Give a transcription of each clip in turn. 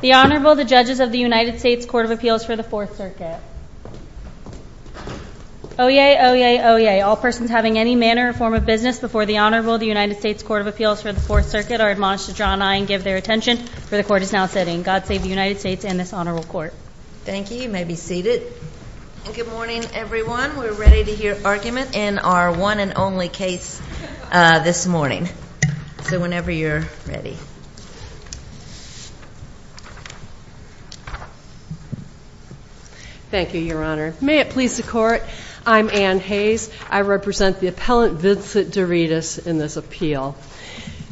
The Honorable, the Judges of the United States Court of Appeals for the Fourth Circuit. Oyez! Oyez! Oyez! All persons having any manner or form of business before the Honorable, the United States Court of Appeals for the Fourth Circuit are admonished to draw an eye and give their attention, for the Court is now sitting. God save the United States and this Honorable Court. Thank you. You may be seated. Good morning, everyone. We're ready to hear argument in our one and only case this morning. So whenever you're ready. Thank you, Your Honor. May it please the Court, I'm Anne Hayes. I represent the appellant, Vincent Deritis, in this appeal.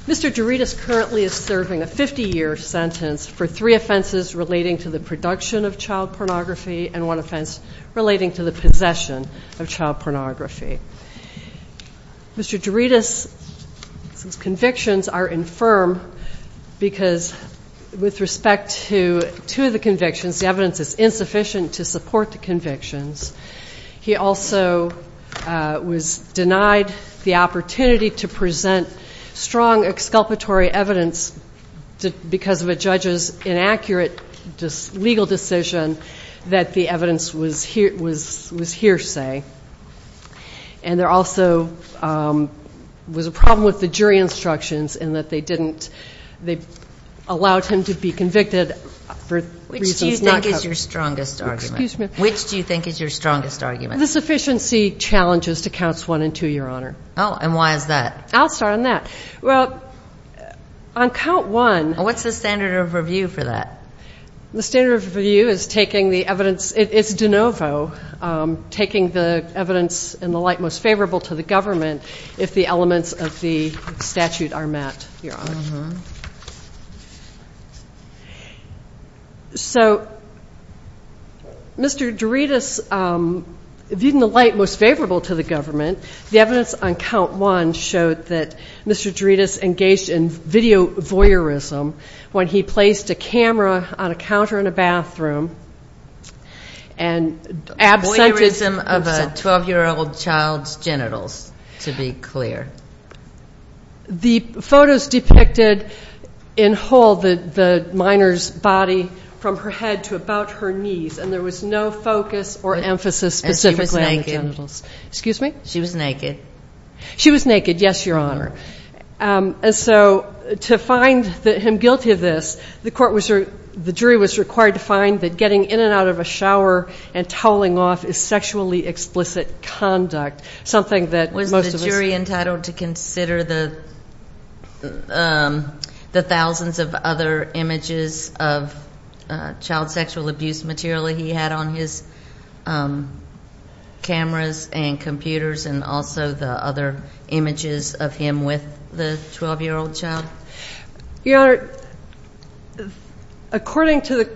Mr. Deritis currently is serving a 50-year sentence for three offenses relating to the production of child pornography and one offense relating to the possession of child pornography. Mr. Deritis' convictions are infirm because with respect to the convictions, the evidence is insufficient to support the convictions. He also was denied the opportunity to present strong exculpatory evidence because of a judge's inaccurate legal decision that the evidence was hearsay. And there also was a problem with the jury instructions in that they didn't, they allowed him to be convicted for reasons not covered. Which is your strongest argument? Which do you think is your strongest argument? The sufficiency challenges to counts one and two, Your Honor. Oh, and why is that? I'll start on that. Well, on count one. What's the standard of review for that? The standard of review is taking the evidence, it's de novo, taking the evidence in the light most favorable to the government if the elements of the statute are met, Your Honor. Uh-huh. So, Mr. Deritis, in the light most favorable to the government, the evidence on count one showed that Mr. Deritis engaged in video voyeurism when he placed a camera on a counter in a bathroom and absented. Voyeurism of a 12-year-old child's genitals, to be clear. The photos depicted in whole the minor's body from her head to about her knees, and there was no focus or emphasis specifically on the genitals. Excuse me? She was naked. She was naked, yes, Your Honor. And so to find him guilty of this, the jury was required to find that getting in and out of a shower and toweling off is sexually explicit conduct, something that most of us know. Was the jury entitled to consider the thousands of other images of child sexual abuse material that he had on his cameras and computers and also the other images of him with the 12-year-old child? Your Honor, according to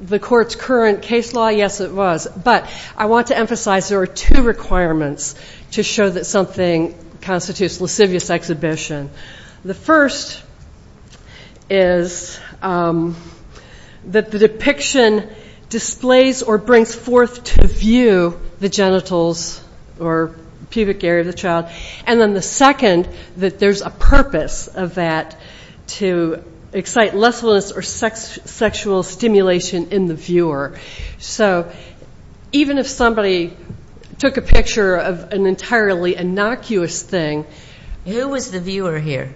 the court's current case law, yes, it was. But I want to emphasize there are two requirements to show that something constitutes lascivious exhibition. The first is that the depiction displays or brings forth to view the genitals or pubic area of the child. And then the second, that there's a purpose of that to excite lessfulness or sexual stimulation in the viewer. So even if somebody took a picture of an entirely innocuous thing... Who was the viewer here?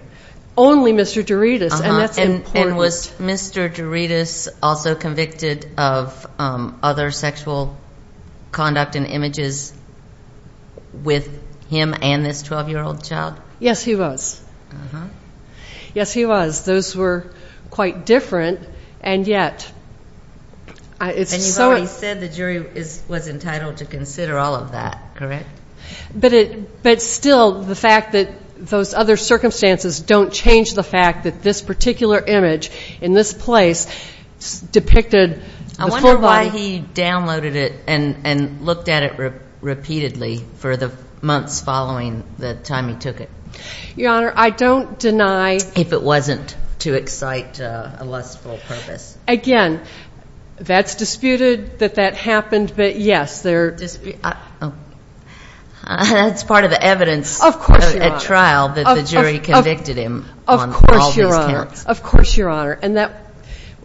Only Mr. Doritis, and that's important. And was Mr. Doritis also convicted of other sexual conduct and images with him and this 12-year-old child? Yes, he was. Yes, he was. Those were quite different, and yet it's so... And you've already said the jury was entitled to consider all of that, correct? But still, the fact that those other circumstances don't change the fact that this particular image in this place depicted the forebody... I wonder why he downloaded it and looked at it repeatedly for the months following the time he took it. Your Honor, I don't deny... If it wasn't to excite a lustful purpose. Again, that's disputed that that happened, but yes, there... That's part of the evidence at trial that the jury convicted him on all these counts. Of course, Your Honor. And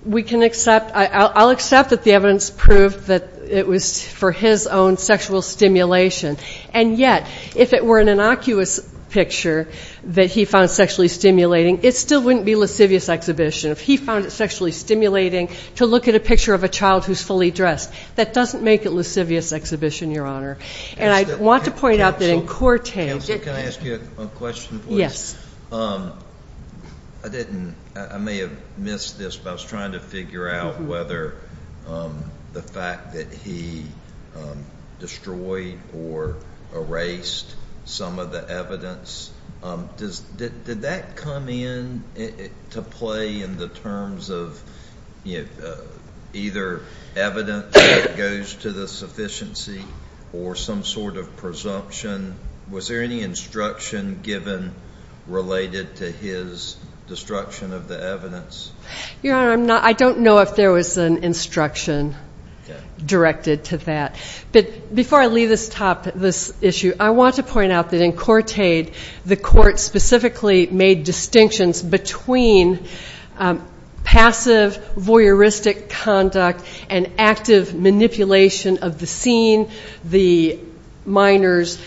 we can accept... I'll accept that the evidence proved that it was for his own sexual stimulation. And yet, if it were an innocuous picture that he found sexually stimulating, it still wouldn't be lascivious exhibition. If he found it sexually stimulating to look at a picture of a child who's fully dressed, that doesn't make it lascivious exhibition, Your Honor. And I want to point out that in Cortez... Counselor, can I ask you a question, please? Yes. I didn't... I may have missed this, but I was trying to figure out whether the fact that he destroyed or erased some of the evidence... Did that come in to play in the terms of either evidence that goes to the sufficiency or some sort of presumption? Was there any instruction given related to his destruction of the evidence? Your Honor, I don't know if there was an instruction directed to that. But before I leave this issue, I want to point out that in Cortez, the court specifically made distinctions between passive voyeuristic conduct and active manipulation of the scene, the minor's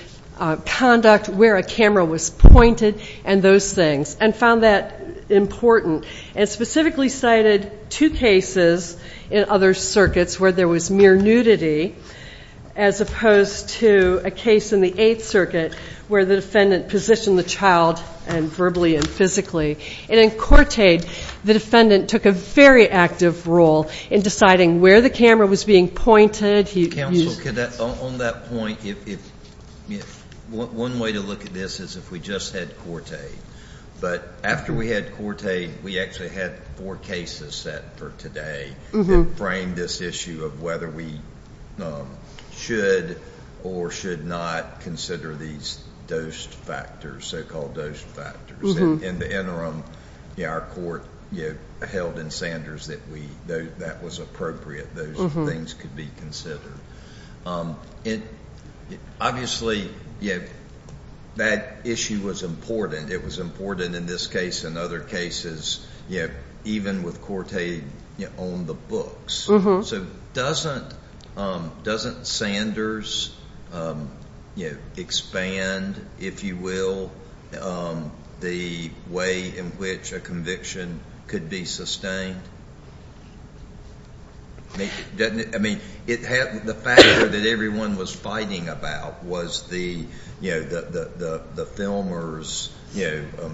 conduct, where a camera was pointed, and those things, and found that important. And specifically cited two cases in other circuits where there was mere nudity, as opposed to a case in the Eighth Circuit where the defendant positioned the child verbally and physically. And in Cortez, the defendant took a very active role in deciding where the camera was being pointed. Counsel, on that point, one way to look at this is if we just had Cortez. But after we had Cortez, we actually had four cases set for today that framed this issue of whether we should or should not consider these so-called dose factors. In the interim, our court held in Sanders that that was appropriate, those things could be considered. Obviously, that issue was important. It was important in this case and other cases, even with Cortez on the books. So doesn't Sanders expand, if you will, the way in which a conviction could be sustained? I mean, the factor that everyone was fighting about was the filmer's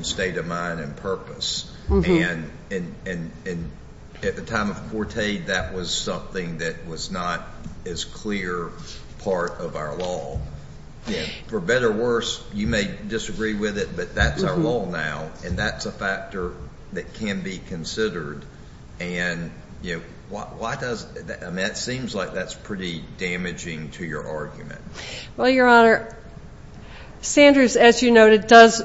state of mind and purpose. And at the time of Cortez, that was something that was not as clear part of our law. For better or worse, you may disagree with it, but that's our law now, and that's a factor that can be considered. And, you know, why does that? I mean, it seems like that's pretty damaging to your argument. Well, Your Honor, Sanders, as you noted, does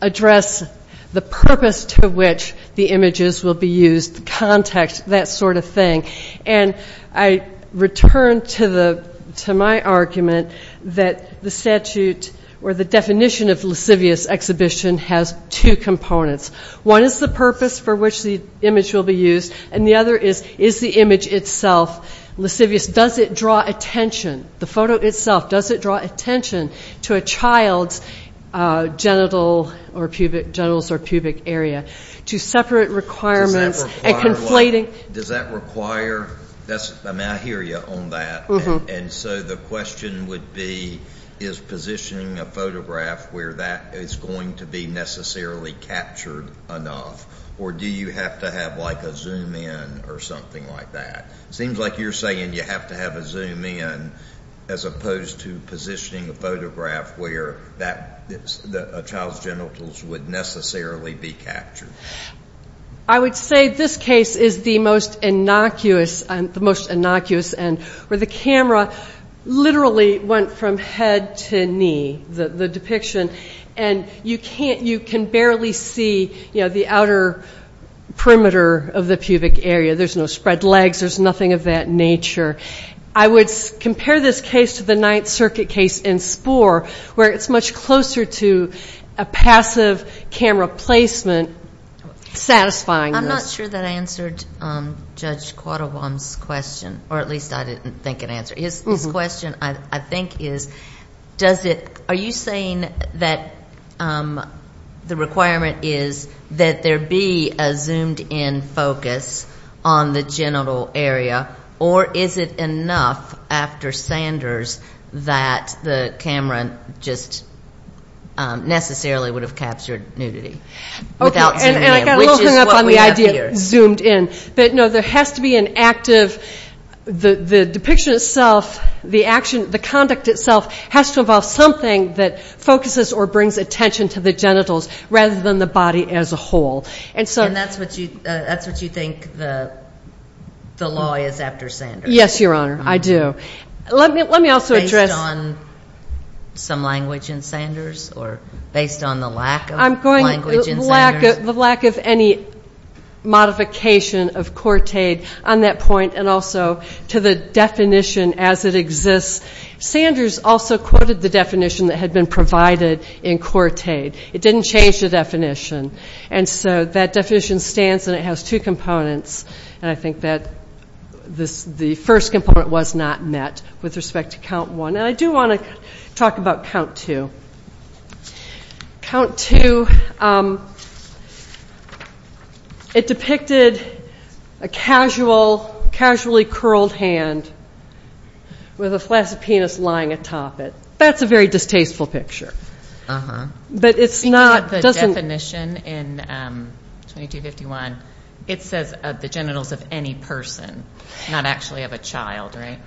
address the purpose to which the images will be used, the context, that sort of thing. And I return to my argument that the statute or the definition of lascivious exhibition has two components. One is the purpose for which the image will be used, and the other is, is the image itself lascivious? Does it draw attention, the photo itself, does it draw attention to a child's genitals or pubic area? To separate requirements and conflating? Does that require? May I hear you on that? And so the question would be, is positioning a photograph where that is going to be necessarily captured enough, or do you have to have, like, a zoom in or something like that? It seems like you're saying you have to have a zoom in as opposed to positioning a photograph where a child's genitals would necessarily be captured. I would say this case is the most innocuous and where the camera literally went from head to knee, the depiction, and you can barely see, you know, the outer perimeter of the pubic area. There's no spread legs. There's nothing of that nature. I would compare this case to the Ninth Circuit case in Spore, where it's much closer to a passive camera placement satisfying. I'm not sure that answered Judge Quattlebaum's question, or at least I didn't think it answered. His question, I think, is, are you saying that the requirement is that there be a zoomed-in focus on the genital area, or is it enough after Sanders that the camera just necessarily would have captured nudity without zooming in, which is what we have here? Okay, and I got a little hung up on the idea of zoomed in. But, no, there has to be an active, the depiction itself, the action, the conduct itself, has to involve something that focuses or brings attention to the genitals rather than the body as a whole. And that's what you think the law is after Sanders? Yes, Your Honor, I do. Let me also address. Based on some language in Sanders or based on the lack of language in Sanders? The lack of any modification of court aid on that point, and also to the definition as it exists. Sanders also quoted the definition that had been provided in court aid. It didn't change the definition. And so that definition stands, and it has two components. And I think that the first component was not met with respect to count one. And I do want to talk about count two. Count two, it depicted a casually curled hand with a flask of penis lying atop it. That's a very distasteful picture. But it's not. Speaking of the definition in 2251, it says the genitals of any person, not actually of a child, right?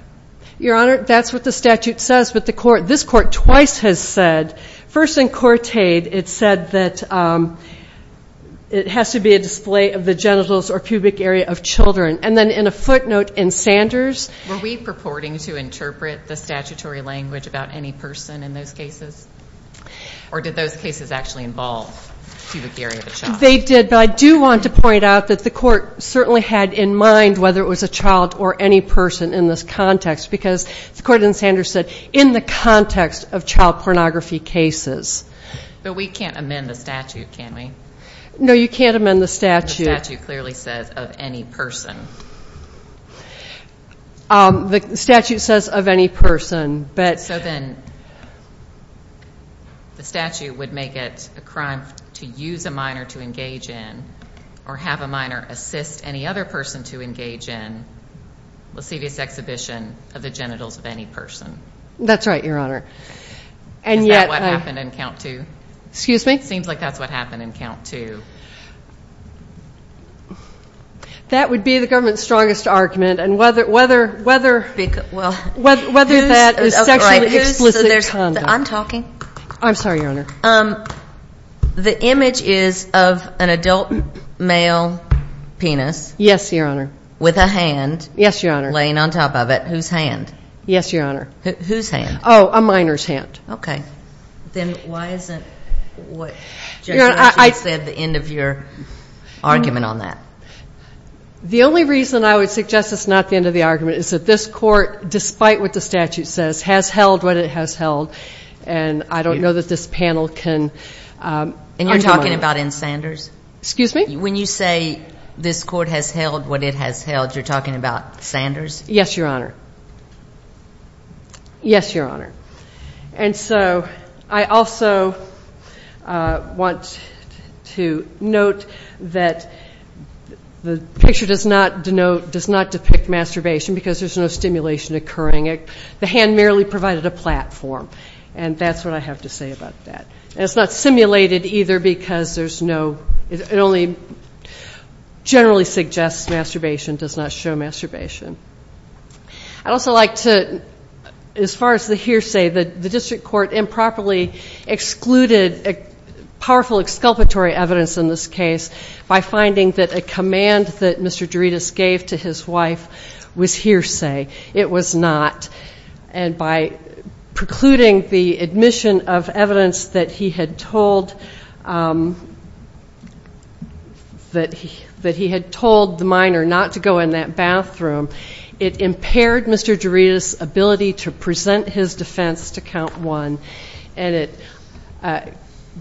Your Honor, that's what the statute says. But the court, this court twice has said, first in court aid, it said that it has to be a display of the genitals or pubic area of children. And then in a footnote in Sanders. Were we purporting to interpret the statutory language about any person in those cases? Or did those cases actually involve pubic area of a child? They did, but I do want to point out that the court certainly had in mind whether it was a child or any person in this context, because the court in Sanders said in the context of child pornography cases. But we can't amend the statute, can we? No, you can't amend the statute. The statute clearly says of any person. The statute says of any person. So then the statute would make it a crime to use a minor to engage in or have a minor assist any other person to engage in lascivious exhibition of the genitals of any person. That's right, Your Honor. Is that what happened in count two? Excuse me? I think it seems like that's what happened in count two. That would be the government's strongest argument. And whether that is sexually explicit conduct. I'm talking. I'm sorry, Your Honor. The image is of an adult male penis. Yes, Your Honor. With a hand. Yes, Your Honor. Laying on top of it. Whose hand? Yes, Your Honor. Whose hand? Oh, a minor's hand. Okay. Then why isn't what Judge Ritchie said the end of your argument on that? The only reason I would suggest it's not the end of the argument is that this court, despite what the statute says, has held what it has held. And I don't know that this panel can argue on it. And you're talking about in Sanders? Excuse me? When you say this court has held what it has held, you're talking about Sanders? Yes, Your Honor. Yes, Your Honor. And so I also want to note that the picture does not denote, does not depict masturbation because there's no stimulation occurring. The hand merely provided a platform. And that's what I have to say about that. And it's not simulated either because there's no, it only generally suggests masturbation, does not show masturbation. I'd also like to, as far as the hearsay, the district court improperly excluded powerful exculpatory evidence in this case by finding that a command that Mr. Doritas gave to his wife was hearsay. It was not. And by precluding the admission of evidence that he had told the minor not to go in that bathroom, it impaired Mr. Doritas' ability to present his defense to Count One, and it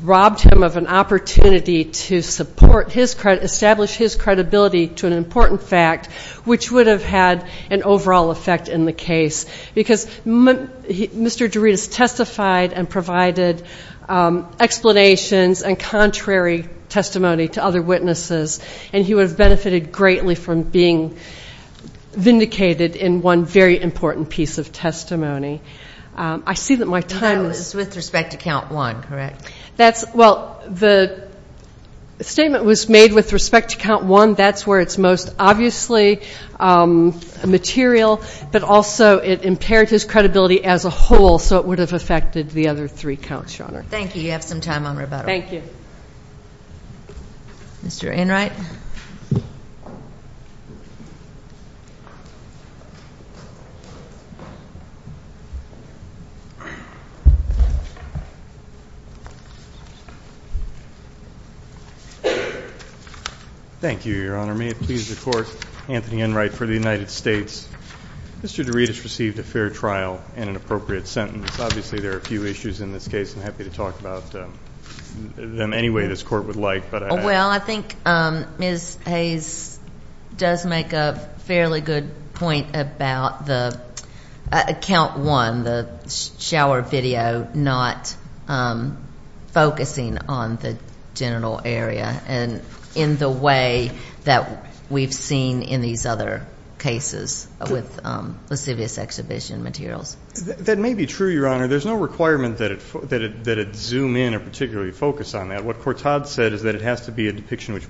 robbed him of an opportunity to support his, establish his credibility to an important fact, which would have had an overall effect in the case because Mr. Doritas testified and provided explanations and contrary testimony to other witnesses, and he would have benefited greatly from being vindicated in one very important piece of testimony. I see that my time is. With respect to Count One, correct? That's, well, the statement was made with respect to Count One. That's where it's most obviously material, but also it impaired his credibility as a whole, so it would have affected the other three counts, Your Honor. Thank you. You have some time on rebuttal. Thank you. Mr. Enright. Thank you, Your Honor. May it please the Court, Anthony Enright for the United States. Mr. Doritas received a fair trial and an appropriate sentence. Obviously there are a few issues in this case. I'm happy to talk about them any way this Court would like. Well, I think Ms. Hayes does make a fairly good point about the Count One, the shower video not focusing on the genital area and in the way that we've seen in these other cases with lascivious exhibition materials. That may be true, Your Honor. There's no requirement that it zoom in or particularly focus on that. What Courtod said is that it has to be a depiction which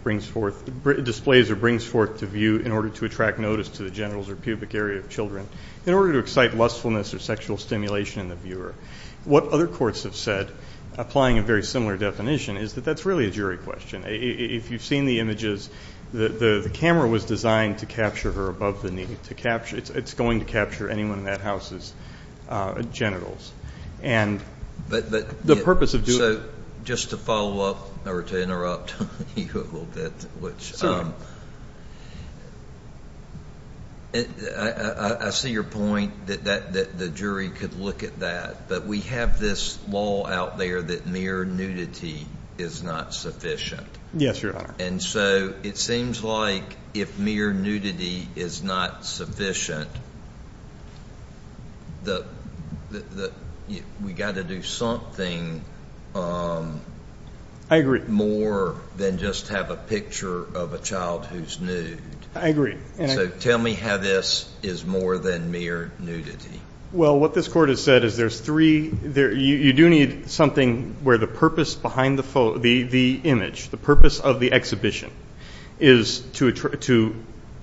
displays or brings forth to view in order to attract notice to the genitals or pubic area of children in order to excite lustfulness or sexual stimulation in the viewer. What other courts have said, applying a very similar definition, is that that's really a jury question. If you've seen the images, the camera was designed to capture her above the knee. It's going to capture anyone in that house's genitals. But the purpose of doing it. Just to follow up or to interrupt you a little bit, I see your point that the jury could look at that, but we have this law out there that mere nudity is not sufficient. Yes, Your Honor. And so it seems like if mere nudity is not sufficient, we've got to do something more than just have a picture of a child who's nude. I agree. So tell me how this is more than mere nudity. Well, what this Court has said is there's three. You do need something where the purpose behind the image, the purpose of the exhibition, is to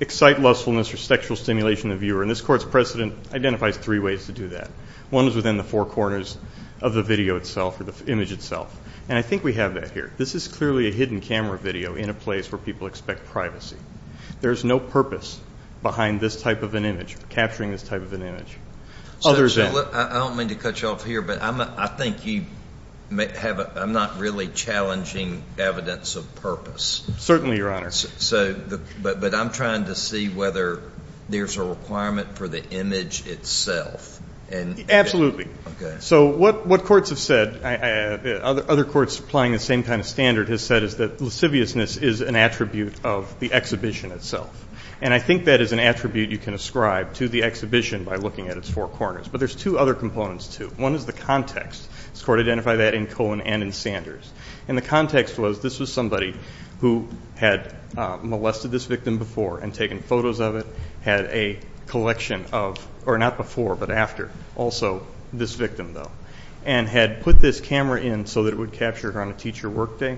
excite lustfulness or sexual stimulation in the viewer. And this Court's precedent identifies three ways to do that. One is within the four corners of the video itself or the image itself. And I think we have that here. This is clearly a hidden camera video in a place where people expect privacy. There's no purpose behind this type of an image, capturing this type of an image. I don't mean to cut you off here, but I think I'm not really challenging evidence of purpose. Certainly, Your Honor. But I'm trying to see whether there's a requirement for the image itself. Absolutely. So what courts have said, other courts applying the same kind of standard, has said is that lasciviousness is an attribute of the exhibition itself. And I think that is an attribute you can ascribe to the exhibition by looking at its four corners. But there's two other components, too. One is the context. This Court identified that in Cohen and in Sanders. And the context was this was somebody who had molested this victim before and taken photos of it, had a collection of, or not before but after, also this victim, though, and had put this camera in so that it would capture her on a teacher work day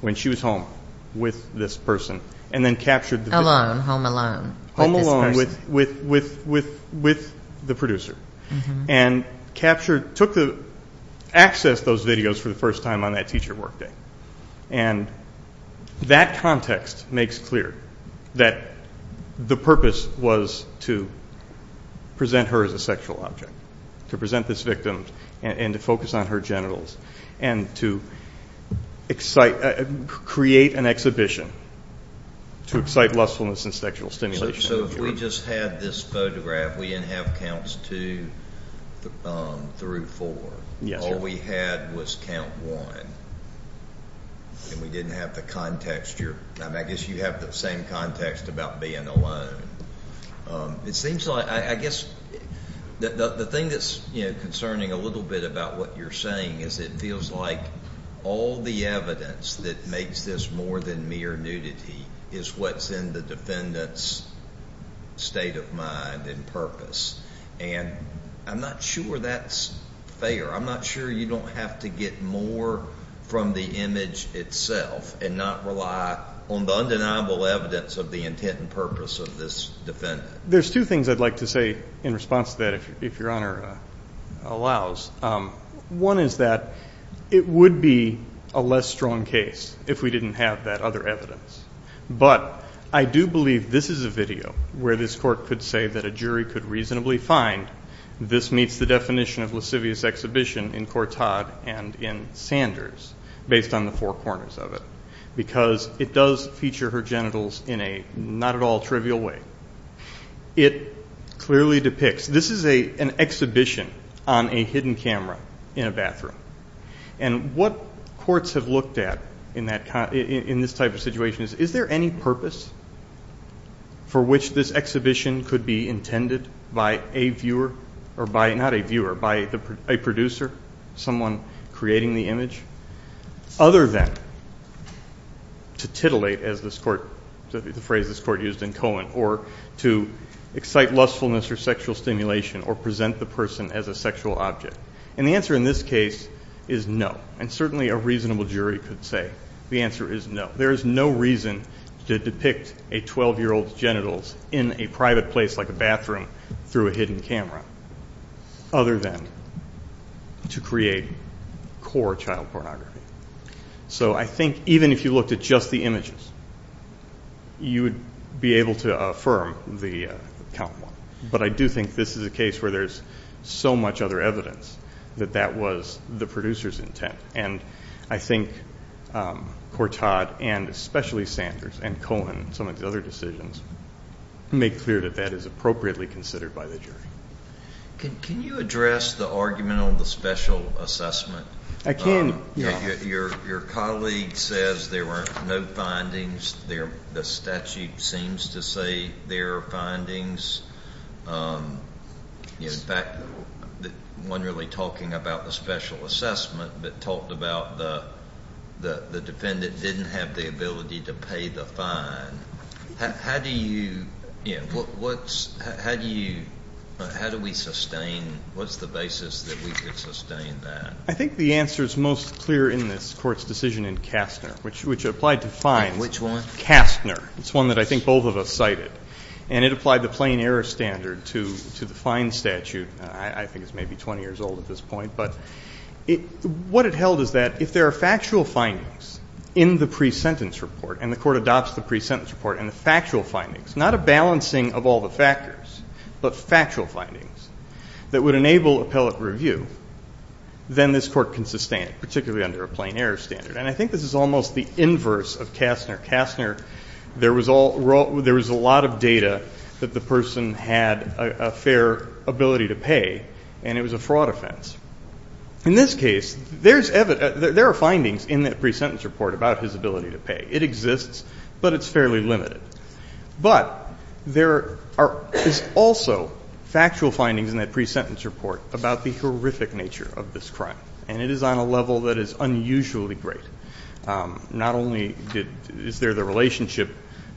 when she was home with this person, and then captured the victim. Alone, home alone. Home alone with the producer. And captured, took the, accessed those videos for the first time on that teacher work day. And that context makes clear that the purpose was to present her as a sexual object, to present this victim and to focus on her genitals, and to excite, create an exhibition to excite lustfulness and sexual stimulation. So if we just had this photograph, we didn't have counts two through four. All we had was count one. And we didn't have the context. I guess you have the same context about being alone. It seems like, I guess, the thing that's concerning a little bit about what you're saying is it feels like all the evidence that makes this more than mere nudity is what's in the defendant's state of mind and purpose. And I'm not sure that's fair. I'm not sure you don't have to get more from the image itself and not rely on the undeniable evidence of the intent and purpose of this defendant. There's two things I'd like to say in response to that, if Your Honor allows. One is that it would be a less strong case if we didn't have that other evidence. But I do believe this is a video where this court could say that a jury could reasonably find this meets the definition of lascivious exhibition in Cortot and in Sanders based on the four corners of it because it does feature her genitals in a not at all trivial way. It clearly depicts, this is an exhibition on a hidden camera in a bathroom. And what courts have looked at in this type of situation is, is there any purpose for which this exhibition could be intended by a viewer, not a viewer, by a producer, someone creating the image, other than to titillate, as the phrase this court used in Cohen, or to excite lustfulness or sexual stimulation or present the person as a sexual object. And the answer in this case is no. And certainly a reasonable jury could say the answer is no. There is no reason to depict a 12-year-old's genitals in a private place like a bathroom through a hidden camera other than to create core child pornography. So I think even if you looked at just the images, you would be able to affirm the count one. But I do think this is a case where there's so much other evidence that that was the producer's intent. And I think Cortot and especially Sanders and Cohen and some of the other decisions make clear that that is appropriately considered by the jury. Can you address the argument on the special assessment? I can. Your colleague says there were no findings. The statute seems to say there are findings. In fact, one really talking about the special assessment that talked about the defendant didn't have the ability to pay the fine. How do you, you know, what's, how do you, how do we sustain, what's the basis that we could sustain that? I think the answer is most clear in this court's decision in Kastner, which applied to fines. Which one? Kastner. It's one that I think both of us cited. And it applied the plain error standard to the fine statute. I think it's maybe 20 years old at this point. But what it held is that if there are factual findings in the pre-sentence report and the court adopts the pre-sentence report and the factual findings, not a balancing of all the factors, but factual findings that would enable appellate review, then this court can sustain it, particularly under a plain error standard. And I think this is almost the inverse of Kastner. Kastner, there was a lot of data that the person had a fair ability to pay, and it was a fraud offense. In this case, there are findings in that pre-sentence report about his ability to pay. It exists, but it's fairly limited. But there are also factual findings in that pre-sentence report about the horrific nature of this crime, and it is on a level that is unusually great. Not only is there the relationship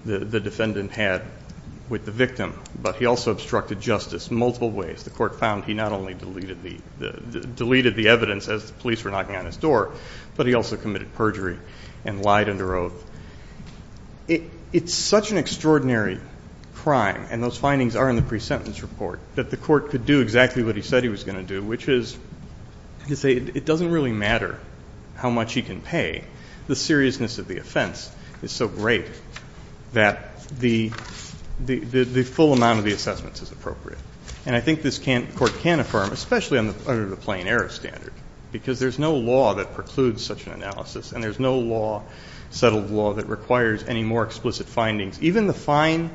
the defendant had with the victim, but he also obstructed justice multiple ways. The court found he not only deleted the evidence as the police were knocking on his door, but he also committed perjury and lied under oath. It's such an extraordinary crime, and those findings are in the pre-sentence report, that the court could do exactly what he said he was going to do, which is to say it doesn't really matter how much he can pay. The seriousness of the offense is so great that the full amount of the assessments is appropriate. And I think this court can affirm, especially under the plain error standard, because there's no law that precludes such an analysis, and there's no law, settled law, that requires any more explicit findings. Even the fine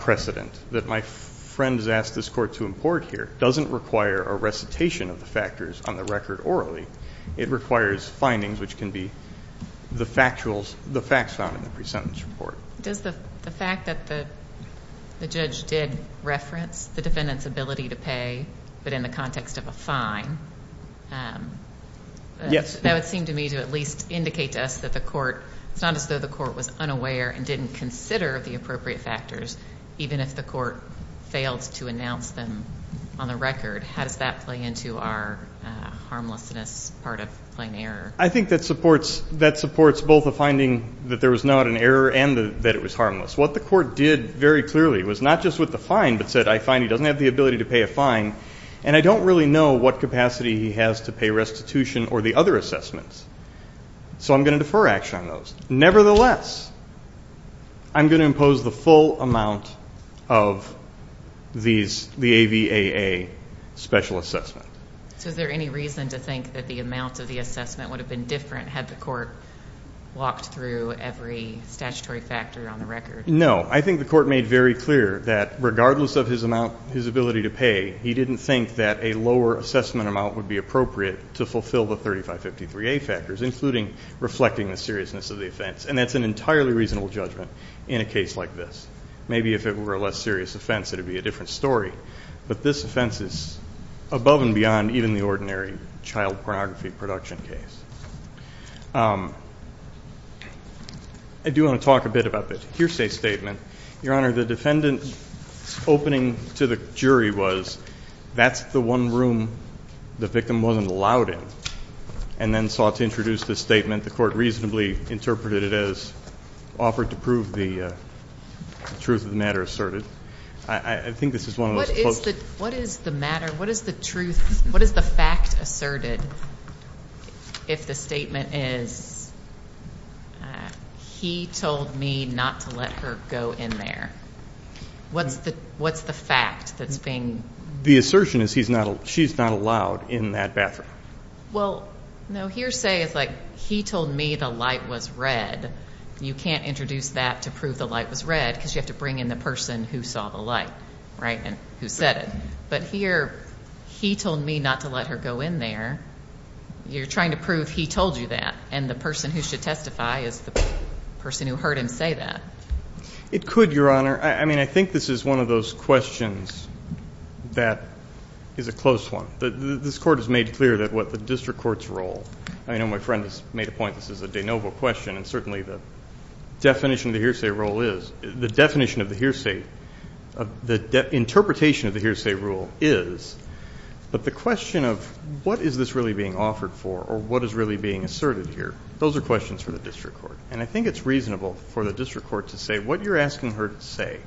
precedent that my friend has asked this court to import here doesn't require a recitation of the factors on the record orally. It requires findings which can be the facts found in the pre-sentence report. Does the fact that the judge did reference the defendant's ability to pay, but in the context of a fine, that would seem to me to at least indicate to us that the court, it's not as though the court was unaware and didn't consider the appropriate factors, even if the court failed to announce them on the record. How does that play into our harmlessness part of plain error? I think that supports both the finding that there was not an error and that it was harmless. What the court did very clearly was not just with the fine, but said, I find he doesn't have the ability to pay a fine, and I don't really know what capacity he has to pay restitution or the other assessments. So I'm going to defer action on those. Nevertheless, I'm going to impose the full amount of the AVAA special assessment. So is there any reason to think that the amount of the assessment would have been different had the court walked through every statutory factor on the record? No. I think the court made very clear that regardless of his amount, his ability to pay, he didn't think that a lower assessment amount would be appropriate to fulfill the 3553A factors, including reflecting the seriousness of the offense. And that's an entirely reasonable judgment in a case like this. Maybe if it were a less serious offense, it would be a different story. But this offense is above and beyond even the ordinary child pornography production case. I do want to talk a bit about the hearsay statement. Your Honor, the defendant's opening to the jury was that's the one room the victim wasn't allowed in and then sought to introduce this statement. The court reasonably interpreted it as offered to prove the truth of the matter asserted. I think this is one of those close. What is the matter? What is the truth? What is the fact asserted if the statement is he told me not to let her go in there? What's the fact that's being? The assertion is she's not allowed in that bathroom. Well, no, hearsay is like he told me the light was red. You can't introduce that to prove the light was red because you have to bring in the person who saw the light, right, and who said it. But here, he told me not to let her go in there. You're trying to prove he told you that, and the person who should testify is the person who heard him say that. It could, Your Honor. I mean, I think this is one of those questions that is a close one. This court has made clear that what the district court's role, I know my friend has made a point this is a de novo question, and certainly the definition of the hearsay role is, the definition of the hearsay, the interpretation of the hearsay rule is, but the question of what is this really being offered for or what is really being asserted here, those are questions for the district court. And I think it's reasonable for the district court to say what you're asking her to say,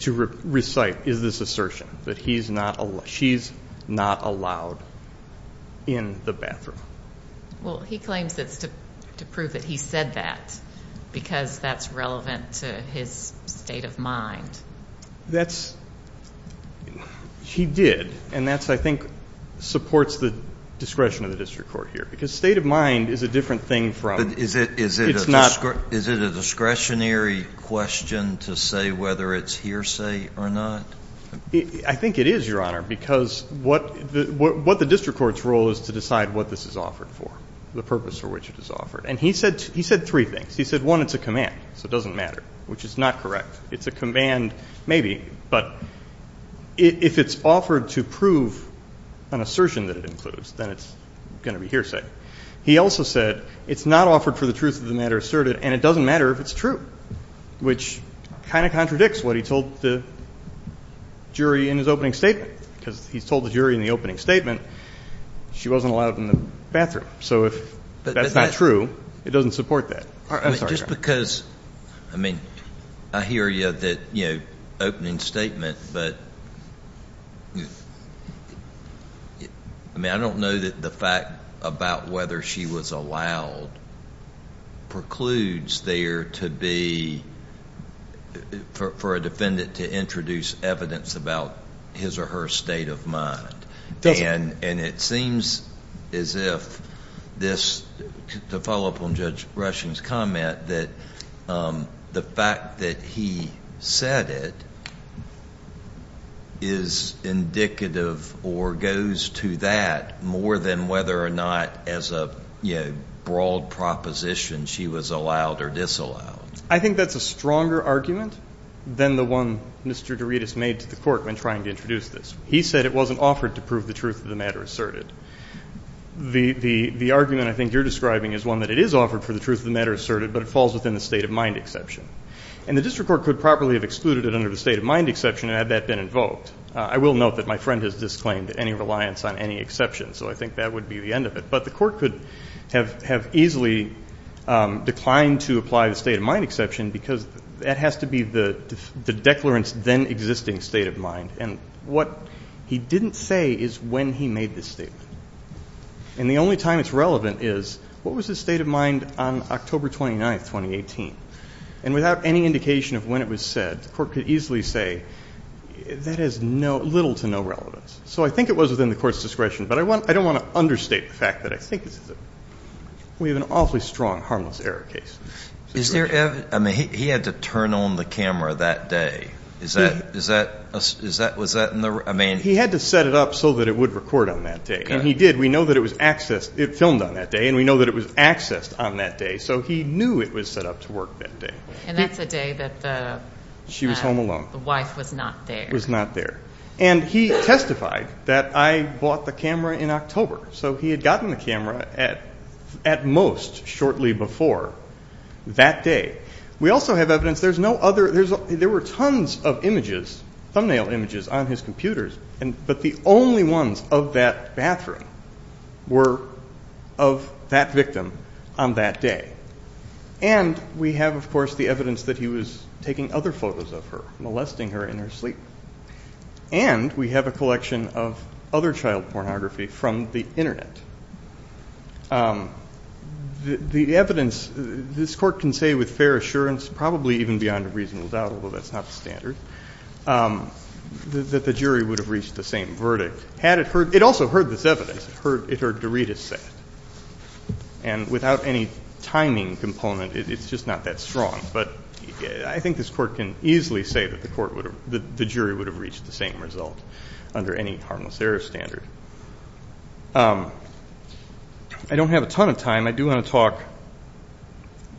to recite, is this assertion that he's not, she's not allowed in the bathroom. Well, he claims it's to prove that he said that because that's relevant to his state of mind. That's, he did, and that's, I think, supports the discretion of the district court here, because state of mind is a different thing from, it's not. Is it a discretionary question to say whether it's hearsay or not? I think it is, Your Honor, because what the district court's role is to decide what this is offered for, the purpose for which it is offered. And he said three things. He said, one, it's a command, so it doesn't matter, which is not correct. It's a command maybe, but if it's offered to prove an assertion that it includes, then it's going to be hearsay. He also said it's not offered for the truth of the matter asserted, and it doesn't matter if it's true, which kind of contradicts what he told the jury in his opening statement, because he's told the jury in the opening statement she wasn't allowed in the bathroom. So if that's not true, it doesn't support that. I'm sorry, Your Honor. Just because, I mean, I hear you, that, you know, opening statement, but, I mean, I don't know that the fact about whether she was allowed precludes there to be, for a defendant to introduce evidence about his or her state of mind. And it seems as if this, to follow up on Judge Rushing's comment, that the fact that he said it is indicative or goes to that more than whether or not as a, you know, broad proposition she was allowed or disallowed. I think that's a stronger argument than the one Mr. Derides made to the court when trying to introduce this. He said it wasn't offered to prove the truth of the matter asserted. The argument I think you're describing is one that it is offered for the truth of the matter asserted, but it falls within the state of mind exception. And the district court could properly have excluded it under the state of mind exception, had that been invoked. I will note that my friend has disclaimed any reliance on any exception, so I think that would be the end of it. But the court could have easily declined to apply the state of mind exception, because that has to be the declarant's then existing state of mind. And what he didn't say is when he made this statement. And the only time it's relevant is, what was his state of mind on October 29th, 2018? And without any indication of when it was said, the court could easily say, that has little to no relevance. So I think it was within the court's discretion. But I don't want to understate the fact that I think we have an awfully strong harmless error case. I mean, he had to turn on the camera that day. Is that, was that in the, I mean. He had to set it up so that it would record on that day. And he did. We know that it was accessed, it filmed on that day. And we know that it was accessed on that day. So he knew it was set up to work that day. And that's the day that the. She was home alone. The wife was not there. Was not there. And he testified that I bought the camera in October. So he had gotten the camera at most shortly before that day. We also have evidence. There's no other. There were tons of images, thumbnail images on his computers. But the only ones of that bathroom were of that victim on that day. And we have, of course, the evidence that he was taking other photos of her, molesting her in her sleep. And we have a collection of other child pornography from the Internet. The evidence, this court can say with fair assurance, probably even beyond a reasonable doubt, although that's not the standard, that the jury would have reached the same verdict had it heard. It also heard this evidence. It heard Dorita say it. And without any timing component, it's just not that strong. But I think this court can easily say that the court would have, under any harmless error standard. I don't have a ton of time. I do want to talk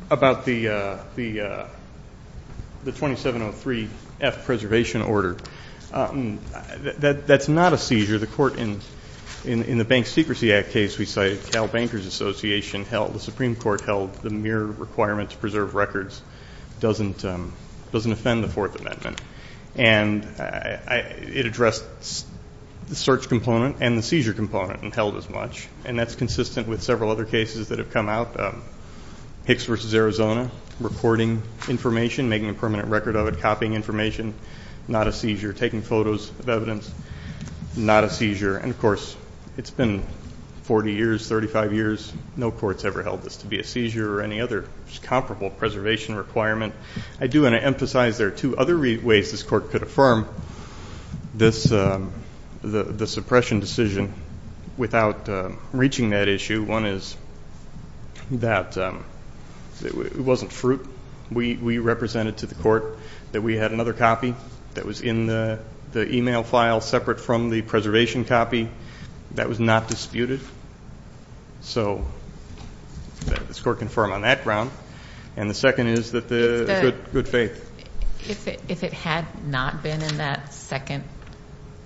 about the 2703F preservation order. That's not a seizure. The court in the Bank Secrecy Act case we cited, Cal Bankers Association held, the Supreme Court held the mere requirement to preserve records doesn't offend the Fourth Amendment. And it addressed the search component and the seizure component and held as much. And that's consistent with several other cases that have come out. Hicks v. Arizona, recording information, making a permanent record of it, copying information, not a seizure, taking photos of evidence, not a seizure. And, of course, it's been 40 years, 35 years, no court's ever held this to be a seizure or any other comparable preservation requirement. I do want to emphasize there are two other ways this court could affirm the suppression decision without reaching that issue. One is that it wasn't fruit. We represented to the court that we had another copy that was in the e-mail file separate from the preservation copy. That was not disputed. So this court can affirm on that ground. And the second is that the good faith. If it had not been in that second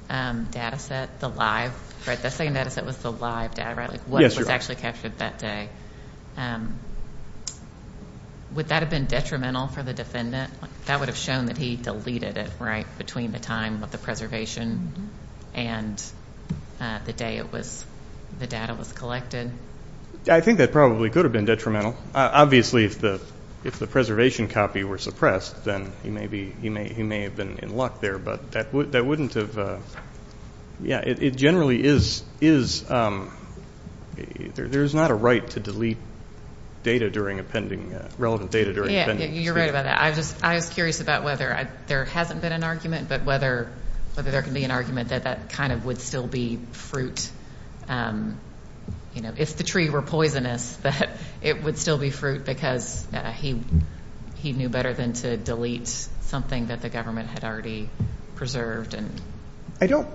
data set, the live, right, that second data set was the live data, right, what was actually captured that day, would that have been detrimental for the defendant? That would have shown that he deleted it, right, between the time of the preservation and the day it was, the data was collected. I think that probably could have been detrimental. Obviously, if the preservation copy were suppressed, then he may have been in luck there. But that wouldn't have, yeah, it generally is, there's not a right to delete data during appending, relevant data during appending. Yeah, you're right about that. I was curious about whether there hasn't been an argument, but whether there can be an argument that that kind of would still be fruit. You know, if the tree were poisonous, that it would still be fruit, because he knew better than to delete something that the government had already preserved. I don't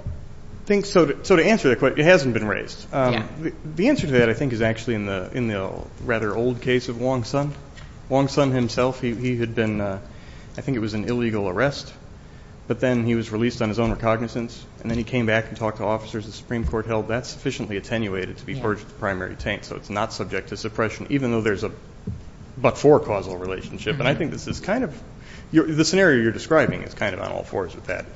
think so. So to answer that question, it hasn't been raised. The answer to that, I think, is actually in the rather old case of Wong Sun. Wong Sun himself, he had been, I think it was an illegal arrest, but then he was released on his own recognizance, and then he came back and talked to officers. The Supreme Court held that sufficiently attenuated to be purged of the primary taint, so it's not subject to suppression, even though there's a but-for causal relationship. And I think this is kind of, the scenario you're describing is kind of on all fours with that,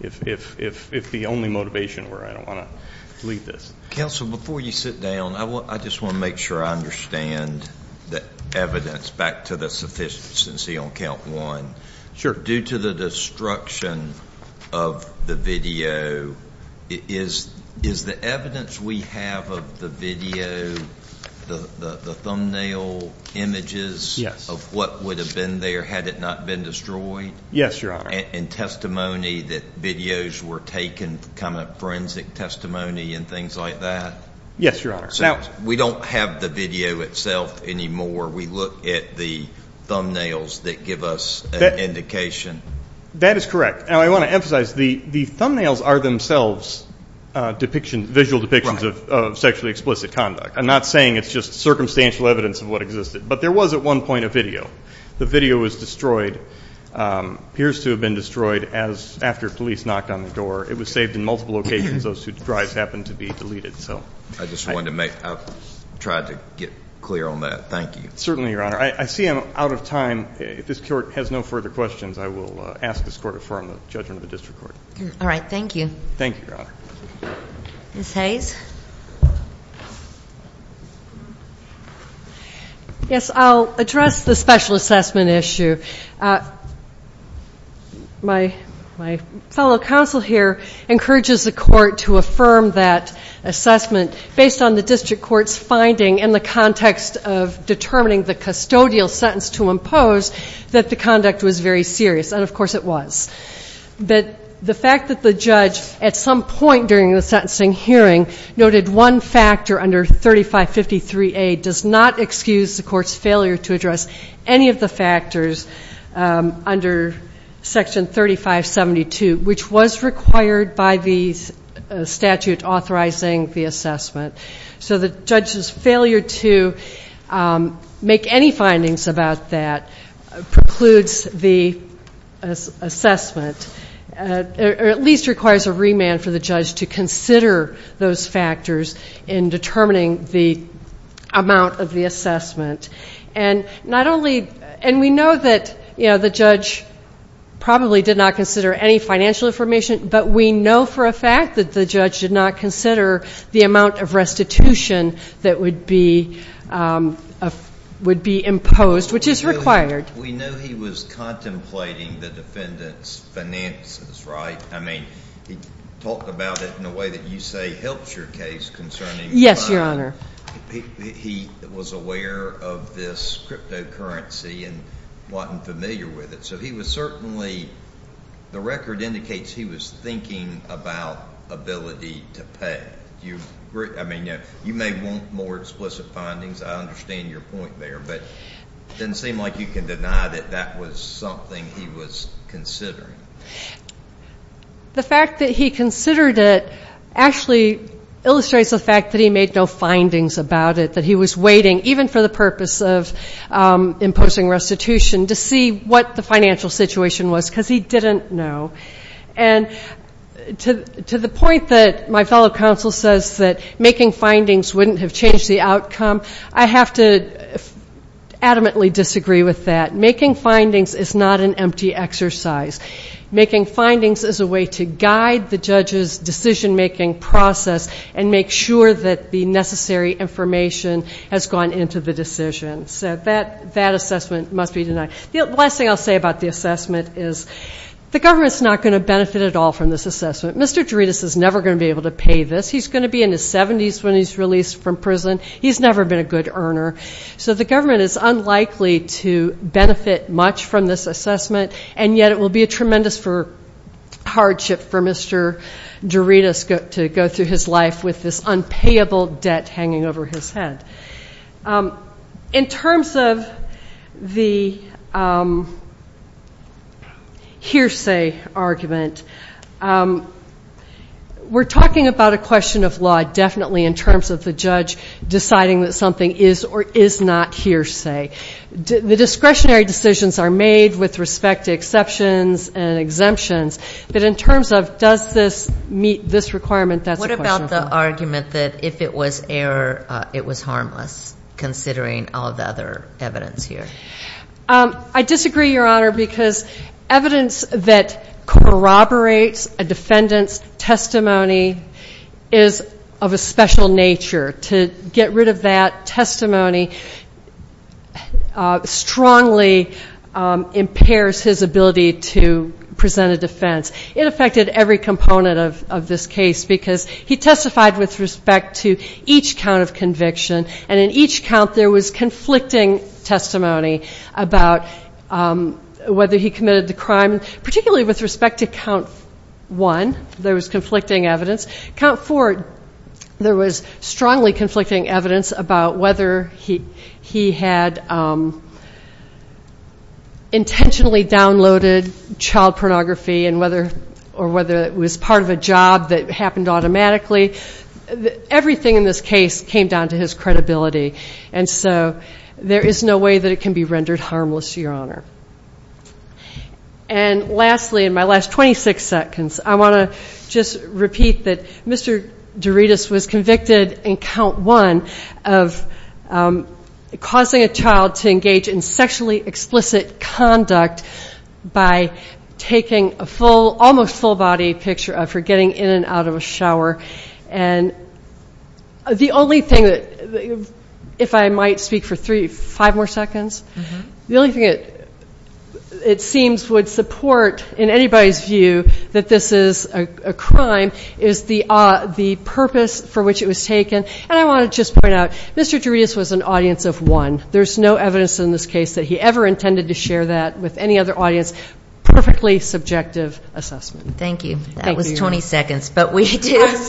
if the only motivation were I don't want to delete this. Counsel, before you sit down, I just want to make sure I understand the evidence back to the sufficiency on count one. Sure. Due to the destruction of the video, is the evidence we have of the video, the thumbnail images of what would have been there had it not been destroyed? Yes, Your Honor. And testimony that videos were taken, kind of forensic testimony and things like that? Yes, Your Honor. We don't have the video itself anymore. We look at the thumbnails that give us an indication. That is correct. Now, I want to emphasize the thumbnails are themselves visual depictions of sexually explicit conduct. I'm not saying it's just circumstantial evidence of what existed, but there was at one point a video. The video was destroyed, appears to have been destroyed after police knocked on the door. It was saved in multiple locations. Those two drives happened to be deleted. I just wanted to make, I've tried to get clear on that. Thank you. Certainly, Your Honor. I see I'm out of time. If this court has no further questions, I will ask this court to affirm the judgment of the district court. All right. Thank you. Thank you, Your Honor. Ms. Hayes? Yes, I'll address the special assessment issue. My fellow counsel here encourages the court to affirm that assessment based on the district court's finding in the context of determining the custodial sentence to impose that the conduct was very serious. And, of course, it was. The fact that the judge at some point during the sentencing hearing noted one factor under 3553A does not excuse the court's failure to address any of the factors under Section 3572, which was required by the statute authorizing the assessment. So the judge's failure to make any findings about that precludes the assessment or at least requires a remand for the judge to consider those factors in determining the amount of the assessment. And we know that the judge probably did not consider any financial information, but we know for a fact that the judge did not consider the amount of restitution that would be imposed, which is required. We know he was contemplating the defendant's finances, right? I mean, he talked about it in a way that you say helps your case concerning the fact that he was aware of this cryptocurrency and wasn't familiar with it. So he was certainly, the record indicates he was thinking about ability to pay. You may want more explicit findings. I understand your point there, but it doesn't seem like you can deny that that was something he was considering. The fact that he considered it actually illustrates the fact that he made no findings about it, that he was waiting, even for the purpose of imposing restitution, to see what the financial situation was, because he didn't know. And to the point that my fellow counsel says that making findings wouldn't have changed the outcome, I have to adamantly disagree with that. Making findings is not an empty exercise. Making findings is a way to guide the judge's decision-making process and make sure that the necessary information has gone into the decision. So that assessment must be denied. The last thing I'll say about the assessment is the government's not going to benefit at all from this assessment. Mr. Derides is never going to be able to pay this. He's going to be in his 70s when he's released from prison. He's never been a good earner. So the government is unlikely to benefit much from this assessment, and yet it will be a tremendous hardship for Mr. Derides to go through his life with this unpayable debt hanging over his head. In terms of the hearsay argument, we're talking about a question of law definitely in terms of the judge deciding that something is or is not hearsay. The discretionary decisions are made with respect to exceptions and exemptions, but in terms of does this meet this requirement, that's a question of law. What about the argument that if it was error, it was harmless, considering all of the other evidence here? I disagree, Your Honor, because evidence that corroborates a defendant's testimony is of a special nature. To get rid of that testimony strongly impairs his ability to present a defense. It affected every component of this case, because he testified with respect to each count of conviction, and in each count there was conflicting testimony about whether he committed the crime. Particularly with respect to count one, there was conflicting evidence. Count four, there was strongly conflicting evidence about whether he had intentionally downloaded child pornography or whether it was part of a job that happened automatically. Everything in this case came down to his credibility, and so there is no way that it can be rendered harmless, Your Honor. And lastly, in my last 26 seconds, I want to just repeat that Mr. Derides was convicted in count one of causing a child to engage in sexually explicit conduct by taking a photograph of a child. Almost full-body picture of her getting in and out of a shower. The only thing that, if I might speak for five more seconds, the only thing it seems would support in anybody's view that this is a crime is the purpose for which it was taken, and I want to just point out, Mr. Derides was an audience of one. There's no evidence in this case that he ever intended to share that with any other audience. It was a perfectly subjective assessment. Thank you. That was 20 seconds. But Ms.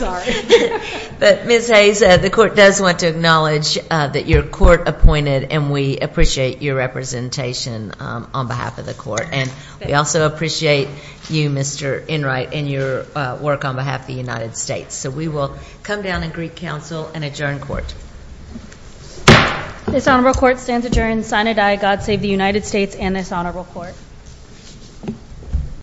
Hayes, the Court does want to acknowledge that you're court-appointed, and we appreciate your representation on behalf of the Court. And we also appreciate you, Mr. Enright, and your work on behalf of the United States. So we will come down and greet counsel and adjourn court. This honorable court stands adjourned. God save the United States and this honorable court.